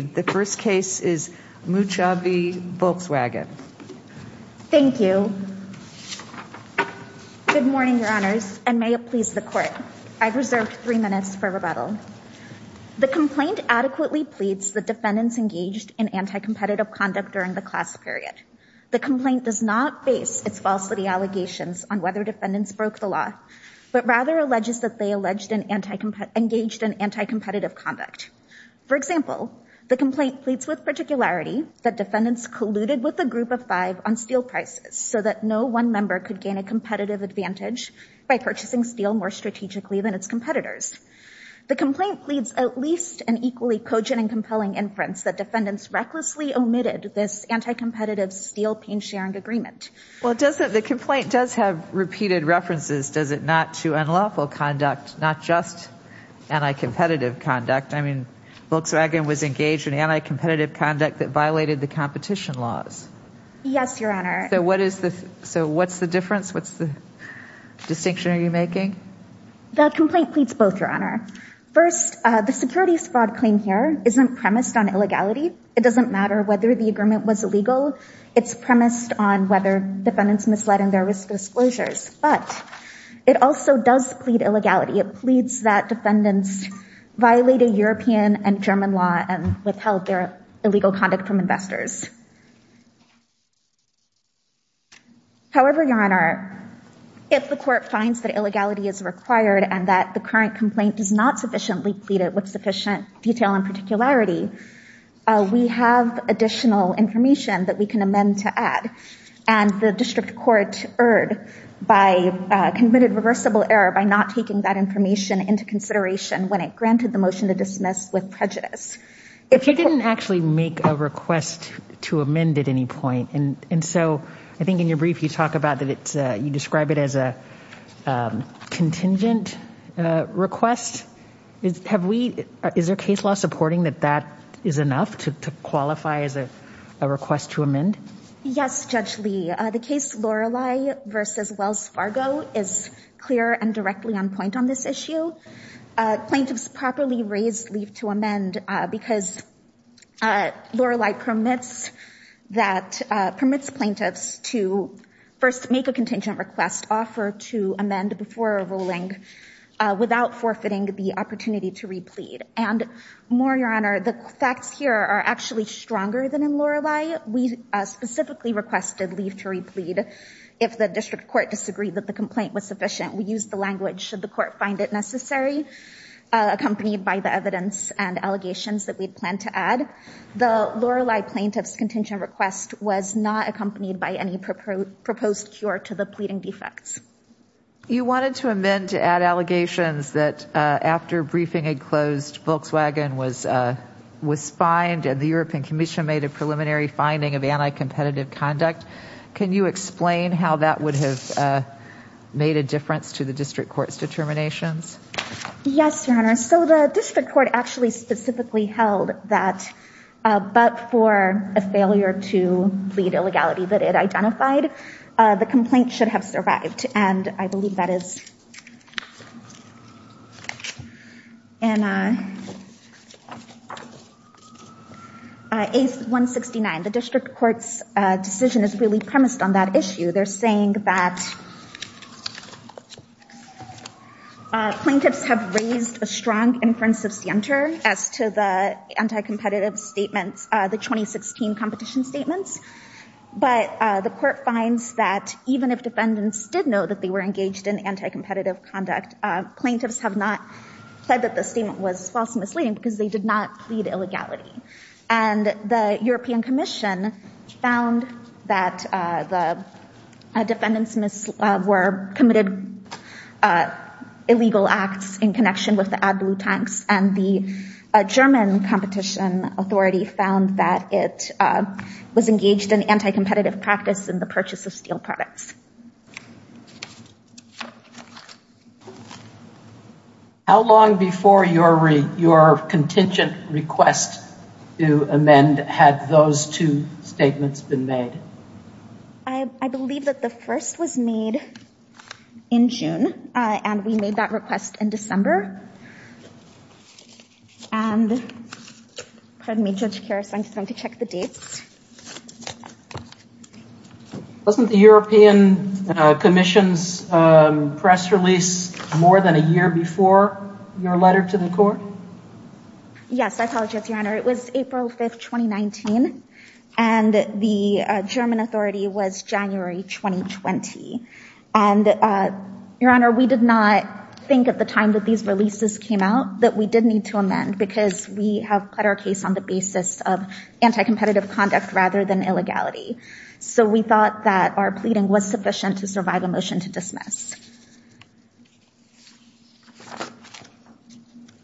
The first case is Muchavi Volkswagen. Thank you. Good morning, your honors, and may it please the court. I've reserved three minutes for rebuttal. The complaint adequately pleads the defendants engaged in anti-competitive conduct during the class period. The complaint does not base its falsity allegations on whether defendants broke the law, but rather alleges that they engaged in anti-competitive conduct. For example, the complaint pleads with particularity that defendants colluded with a group of five on steel prices so that no one member could gain a competitive advantage by purchasing steel more strategically than its competitors. The complaint pleads at least an equally cogent and compelling inference that defendants recklessly omitted this anti-competitive steel pain-sharing agreement. Well, the complaint does have repeated references, does it not, to unlawful conduct, not just anti-competitive conduct. I mean, Volkswagen was engaged in anti-competitive conduct that violated the competition laws. Yes, your honor. So what is the, so what's the difference? What's the distinction are you making? The complaint pleads both, your honor. First, the securities fraud claim here isn't premised on illegality. It doesn't matter whether the agreement was illegal. It's premised on whether defendants misled in their risk disclosures. But it also does plead illegality. It pleads that defendants violated European and German law and withheld their illegal conduct from investors. However, your honor, if the court finds that illegality is required and that the current complaint does not sufficiently plead it with sufficient detail and particularity, we have additional information that we can amend to add. And the district court erred by committed reversible error by not taking that information into consideration when it granted the motion to dismiss with prejudice. If you didn't actually make a request to amend at any point. And so I think in your brief, you talk about that it's, you describe it as a contingent request. Is there case law supporting that that is enough to qualify as a request to amend? Yes, Judge Lee. The case Lorelei versus Wells Fargo is clear and directly on point on this issue. Plaintiffs properly raised leave to amend because Lorelei permits that, permits plaintiffs to first make a contingent request offer to amend before ruling without forfeiting the opportunity to replead. And more, your honor, the facts here are actually stronger than in Lorelei. We specifically requested leave to replead. If the district court disagreed that the complaint was sufficient, we use the language should the court find it necessary, accompanied by the evidence and allegations that we plan to add. The Lorelei plaintiff's contingent request was not accompanied by any proposed cure to the pleading defects. You wanted to amend to add allegations that after briefing had closed, Volkswagen was fined and the European commission made a preliminary finding of anti-competitive conduct. Can you explain how that would have made a difference to the district court's determinations? Yes, your honor. So the district court actually identified the complaint should have survived. And I believe that is in A169. The district court's decision is really premised on that issue. They're saying that plaintiffs have raised a strong inference of scienter as to the anti-competitive statements, the 2016 competition statements. But the court finds that even if defendants did know that they were engaged in anti-competitive conduct, plaintiffs have not said that the statement was false and misleading because they did not plead illegality. And the European commission found that the defendants were committed illegal acts in connection with the AdBlue tanks. And the that it was engaged in anti-competitive practice in the purchase of steel products. How long before your contingent request to amend had those two statements been made? I believe that the first was made in June and we made that request in December. And pardon me, Judge Karras, I'm just going to check the dates. Wasn't the European Commission's press release more than a year before your letter to the court? Yes, I apologize, your honor. It was April 5th, 2019. And the German authority was January 2020. And your honor, we did not think at the time that these releases came out that we did need to amend because we have put our case on the basis of anti-competitive conduct rather than illegality. So we thought that our pleading was sufficient to survive a motion to dismiss.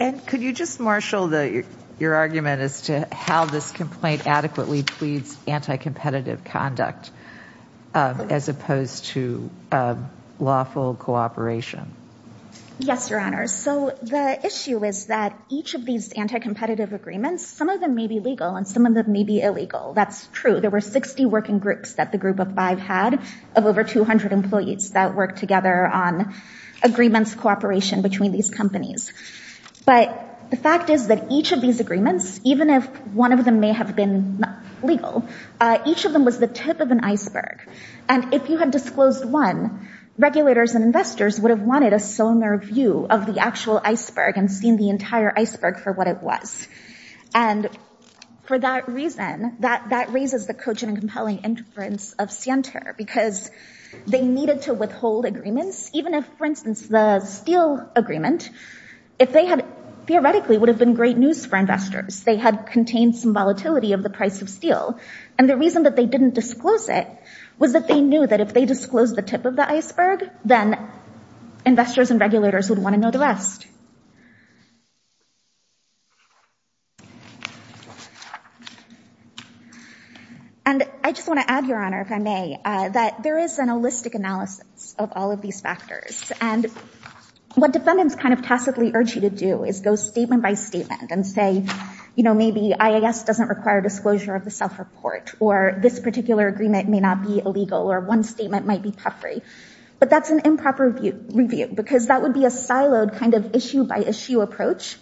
And could you just marshal your argument as to how this complaint adequately pleads anti-competitive conduct as opposed to lawful cooperation? Yes, your honor. So the issue is that each of these anti-competitive agreements, some of them may be legal and some of them may be illegal. That's true. There were 60 working groups that the group of five had of over 200 employees that worked together on agreements cooperation between these companies. But the fact is that each of these agreements, even if one of them may have been legal, each of them was the tip of an iceberg. And if you had disclosed one, regulators and investors would have wanted a similar view of the actual iceberg and seen the entire iceberg for what it was. And for that reason, that raises the coaching and compelling inference of Sienter because they needed to withhold agreements, even if, for instance, the Steele agreement, if they had theoretically would have been great news for investors, they had contained some of the price of Steele. And the reason that they didn't disclose it was that they knew that if they disclosed the tip of the iceberg, then investors and regulators would want to know the rest. And I just want to add, your honor, if I may, that there is an holistic analysis of all of these factors. And what defendants kind of tacitly urge you to do is go statement by statement and say, you know, maybe IAS doesn't require disclosure of the self-report, or this particular agreement may not be illegal, or one statement might be puffery. But that's an improper review, because that would be a siloed kind of issue by issue approach.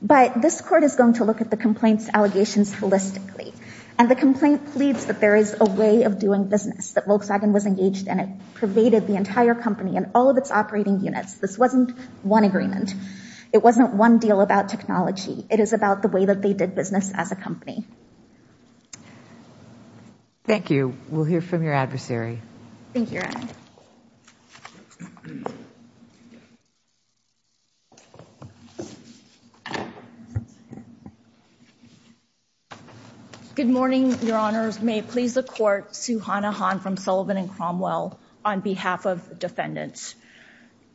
But this court is going to look at the complaints allegations holistically. And the complaint pleads that there is a way of doing business, that Volkswagen was engaged in it, pervaded the entire company and all of its operating units. This wasn't one agreement. It wasn't one deal about technology. It is about the way that they did business as a company. Thank you. We'll hear from your adversary. Thank you. Good morning, your honors. May it please the court. Suhana Han from Sullivan and Cromwell on behalf of defendants.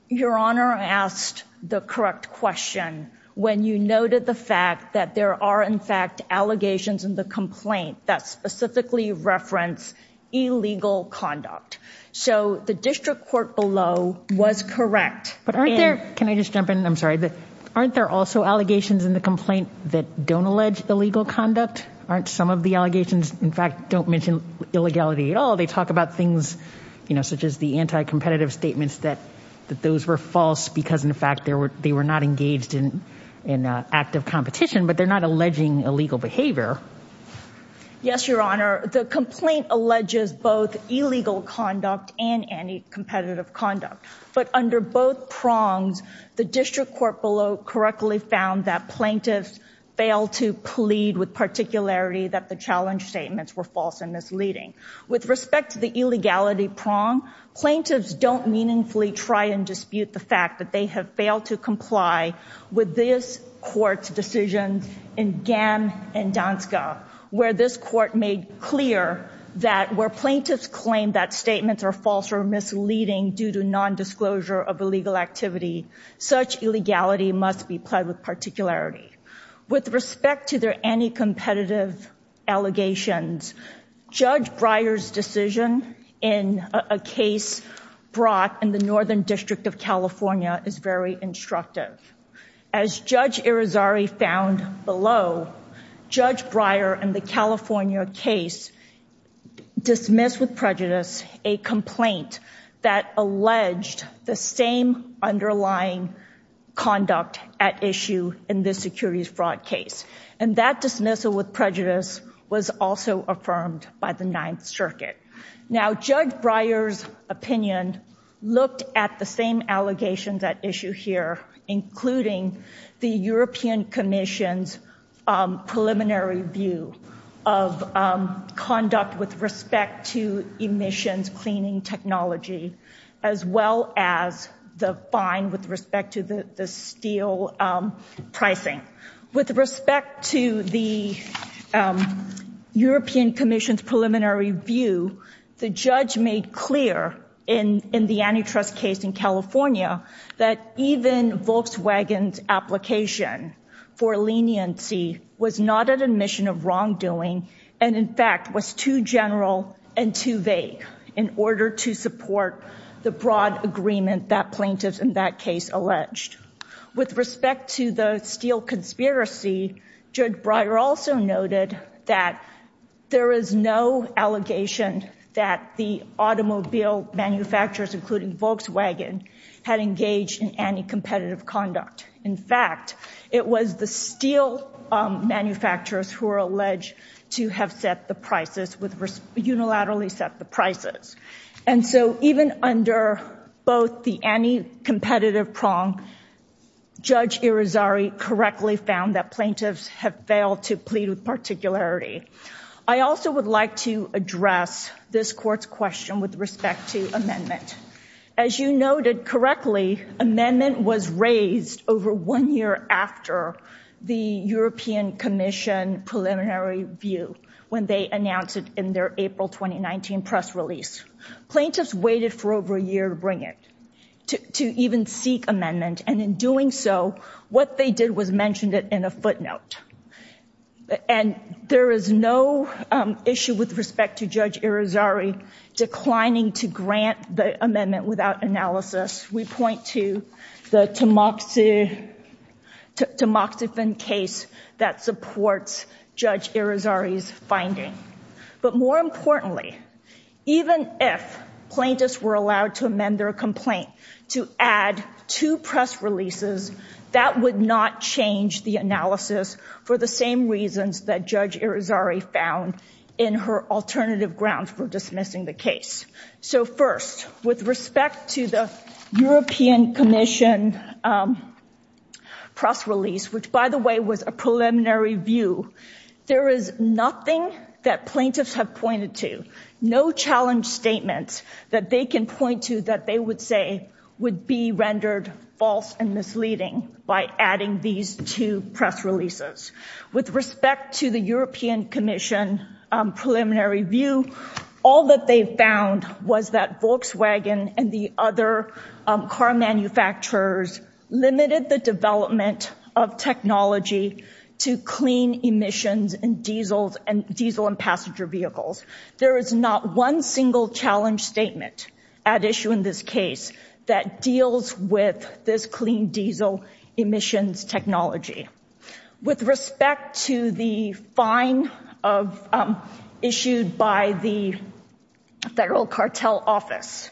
Your honor asked the correct question when you noted the fact that there are in fact allegations in the complaint that specifically reference illegal conduct. So the district court below was correct. But aren't there, can I just jump in? I'm sorry, aren't there also allegations in the complaint that don't allege illegal conduct? Aren't some of the allegations, in fact, don't mention illegality at all? They talk about things, you know, such as the anti-competitive statements that those were false because, in fact, they were not engaged in active competition, but they're not alleging illegal behavior. Yes, your honor. The complaint alleges both illegal conduct and anti-competitive conduct. But under both prongs, the district court below correctly found that plaintiffs failed to plead with particularity that the challenge statements were false and misleading. With respect to the illegality prong, plaintiffs don't meaningfully try and dispute the fact that they have failed to comply with this court's decisions in Gam and Danska, where this court made clear that where plaintiffs claim that statements are false or misleading due to non-disclosure of illegal activity, such illegality must be pled with particularity. With respect to their anti-competitive allegations, Judge Breyer's decision in a case brought in the Northern District of California is very instructive. As Judge Irizarry found below, Judge Breyer in the California case dismissed with prejudice a complaint that alleged the same fraud case. And that dismissal with prejudice was also affirmed by the Ninth Circuit. Now, Judge Breyer's opinion looked at the same allegations at issue here, including the European Commission's preliminary view of conduct with respect to emissions cleaning technology, as well as the fine with respect to the steel pricing. With respect to the European Commission's preliminary view, the judge made clear in the antitrust case in California that even Volkswagen's application for leniency was not an admission of wrongdoing and in fact was too general and too vague in order to support the broad agreement that plaintiffs in that case alleged. With respect to the steel conspiracy, Judge Breyer also noted that there is no allegation that the automobile manufacturers, including Volkswagen, had engaged in anti-competitive conduct. In fact, it was the steel manufacturers who were alleged to have set the prices, unilaterally set the prices. And so even under both the anti-competitive prong, Judge Irizarry correctly found that plaintiffs have failed to plead with particularity. I also would like to address this Court's question with respect to amendment. As you noted correctly, amendment was raised over one year after the European Commission preliminary view when they announced it in their April 2019 press release. Plaintiffs waited for over a year to bring it, to even seek amendment, and in doing so what they did was mentioned it in a footnote. And there is no issue with respect to Judge Irizarry declining to grant the amendment without analysis. We point to the Tamoxifen case that supports Judge Irizarry's finding. But more importantly, even if plaintiffs were allowed to amend their complaint to add two press releases, that would not change the analysis for the same reasons that Judge Irizarry found in her report. With respect to the European Commission press release, which by the way was a preliminary view, there is nothing that plaintiffs have pointed to. No challenge statements that they can point to that they would say would be rendered false and misleading by adding these two press releases. With respect to the European Commission preliminary view, all that they found was that Volkswagen and the other car manufacturers limited the development of technology to clean emissions and diesel and passenger vehicles. There is not one single challenge statement at issue in this case that deals with this clean diesel emissions technology. With respect to the fine of issued by the Federal Cartel Office,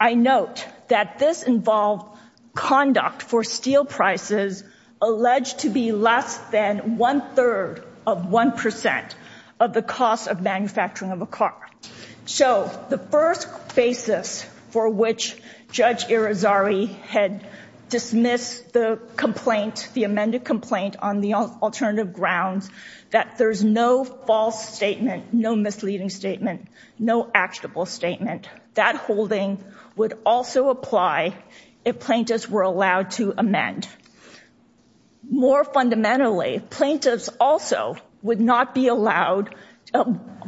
I note that this involved conduct for steel prices alleged to be less than one-third of one percent of the cost of manufacturing of a car. So the first basis for which Judge Irizarry had dismissed the complaint, the amended complaint on the alternative grounds, that there's no false statement, no misleading statement, no actionable statement. That holding would also apply if plaintiffs were allowed to amend. More fundamentally, plaintiffs also would not be allowed,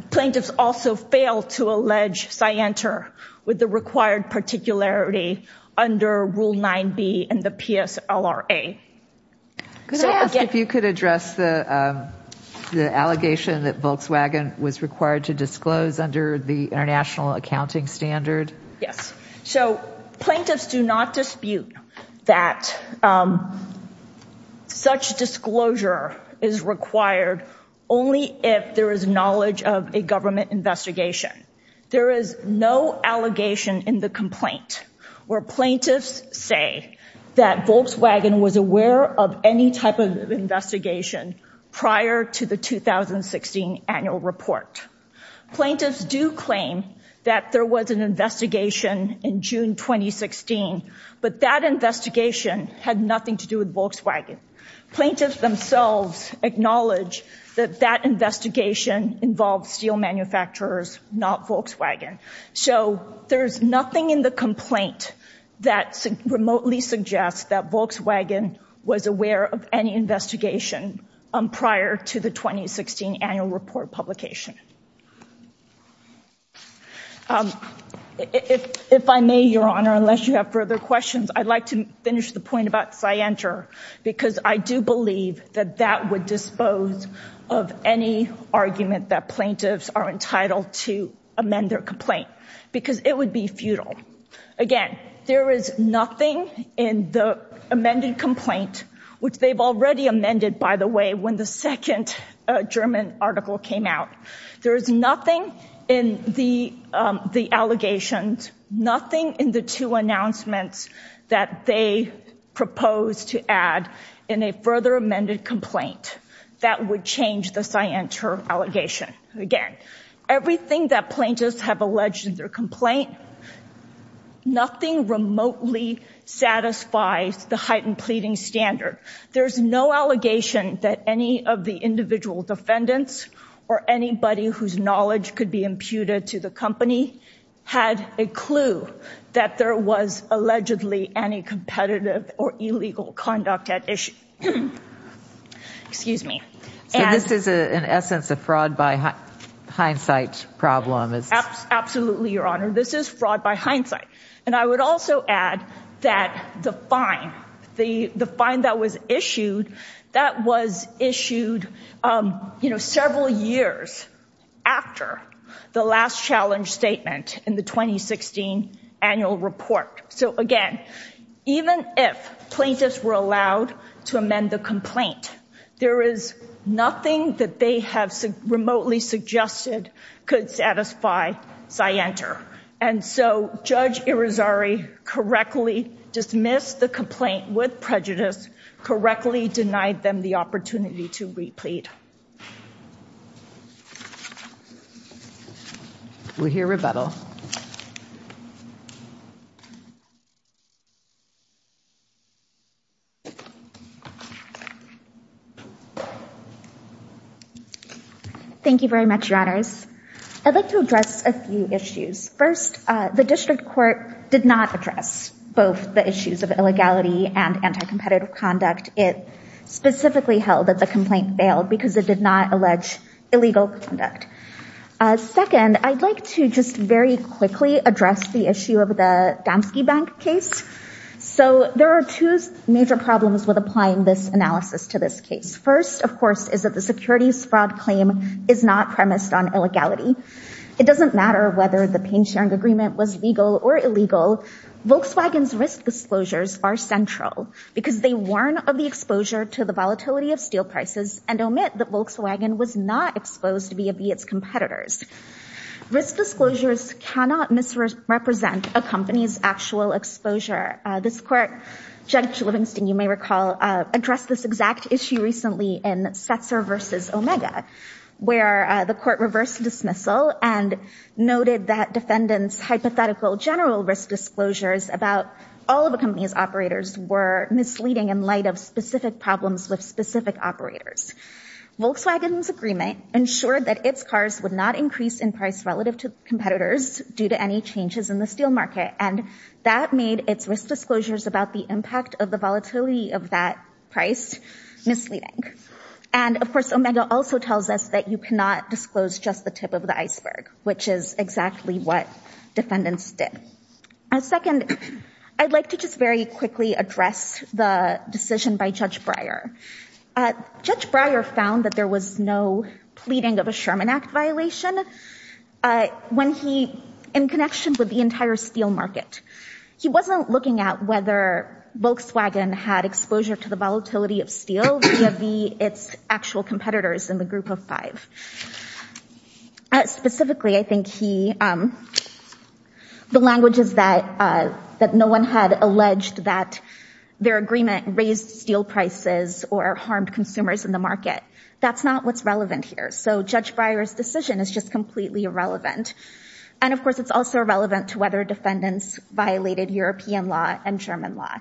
plaintiffs also fail to allege scienter with the required particularity under Rule 9b and the PSLRA. Could I ask if you could address the the allegation that Volkswagen was required to disclose under the international accounting standard? Yes, so plaintiffs do not dispute that such disclosure is required only if there is knowledge of a government investigation. There is no allegation in the complaint where plaintiffs say that Volkswagen was aware of any type of investigation prior to the 2016 annual report. Plaintiffs do claim that there was an investigation in June 2016, but that investigation had nothing to do with Volkswagen. Plaintiffs themselves acknowledge that that investigation involved steel manufacturers, not Volkswagen. So there's nothing in the complaint that remotely suggests that Volkswagen was aware of any investigation prior to the 2016 annual report publication. If I may, Your Honor, unless you have further questions, I'd like to finish the point about that that would dispose of any argument that plaintiffs are entitled to amend their complaint because it would be futile. Again, there is nothing in the amended complaint, which they've already amended, by the way, when the second German article came out. There is nothing in the allegations, nothing in the two announcements that they proposed to add in a further amended complaint that would change the scienter allegation. Again, everything that plaintiffs have alleged in their complaint, nothing remotely satisfies the heightened pleading standard. There's no allegation that any of the individual defendants or anybody whose knowledge could be imputed to the company had a clue that there was allegedly any competitive or illegal conduct at issue. Excuse me. So this is in essence a fraud by hindsight problem. Absolutely, Your Honor. This is fraud by hindsight. And I would also add that the fine, the fine that was issued, that was issued, you know, several years after the last challenge statement in the 2016 annual report. So again, even if plaintiffs were allowed to amend the complaint, there is nothing that they have remotely suggested could satisfy scienter. And so Judge Irizarry correctly dismissed the complaint with prejudice, correctly denied them the opportunity to replete. We'll hear rebuttal. Thank you very much, Your Honors. I'd like to address a few issues. First, the district court did not address both the issues of illegality and anti-competitive conduct. It specifically held that the complaint failed because it did not allege illegal conduct. Second, I'd like to just very quickly address the issue of the Damski Bank case. So there are two major problems with applying this analysis to this case. First, of course, is that the securities fraud claim is not premised on illegality. It doesn't matter whether the pain sharing agreement was legal or illegal. Volkswagen's risk disclosures are central because they warn of the exposure to the volatility of steel prices and omit that Volkswagen was not exposed to be of its competitors. Risk disclosures cannot misrepresent a company's actual exposure. This court, Judge Livingston, you may recall, addressed this exact issue recently in Setzer v. Omega, where the court reversed dismissal and noted that defendants' hypothetical general risk disclosures about all of a company's operators were misleading in light of specific problems with specific operators. Volkswagen's agreement ensured that its cars would not increase in price relative to competitors due to any changes in the steel market, and that made its risk disclosures about the impact of the volatility of that price misleading. And, of course, Omega also tells us that you cannot disclose just the tip of the iceberg, which is exactly what defendants did. Second, I'd like to just very quickly address the decision by Judge Breyer. Judge Breyer found that there was no pleading of a Sherman Act violation in connection with the entire steel market. He wasn't looking at whether Volkswagen had exposure to the volatility of steel its actual competitors in the group of five. Specifically, I think the language is that no one had alleged that their agreement raised steel prices or harmed consumers in the market. That's not what's relevant here. So Judge Breyer's decision is just completely irrelevant. And, of course, it's also irrelevant to whether defendants violated European law and German law.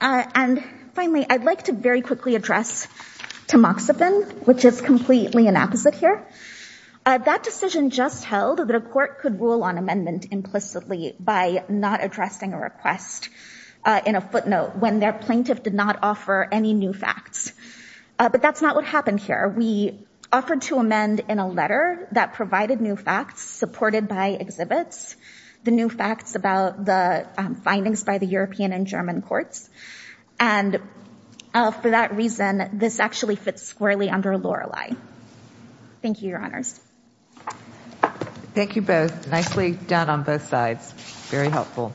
And, finally, I'd like to very quickly address Tamoxifen, which is completely an opposite here. That decision just held that a court could rule on amendment implicitly by not addressing a request in a footnote when their plaintiff did not offer any new facts. But that's not what happened here. We offered to amend in a letter that provided new facts supported by exhibits. The new facts about the findings by the European and German courts. And for that reason, this actually fits squarely under Lorelei. Thank you, Your Honors. Thank you both. Nicely done on both sides. Very helpful.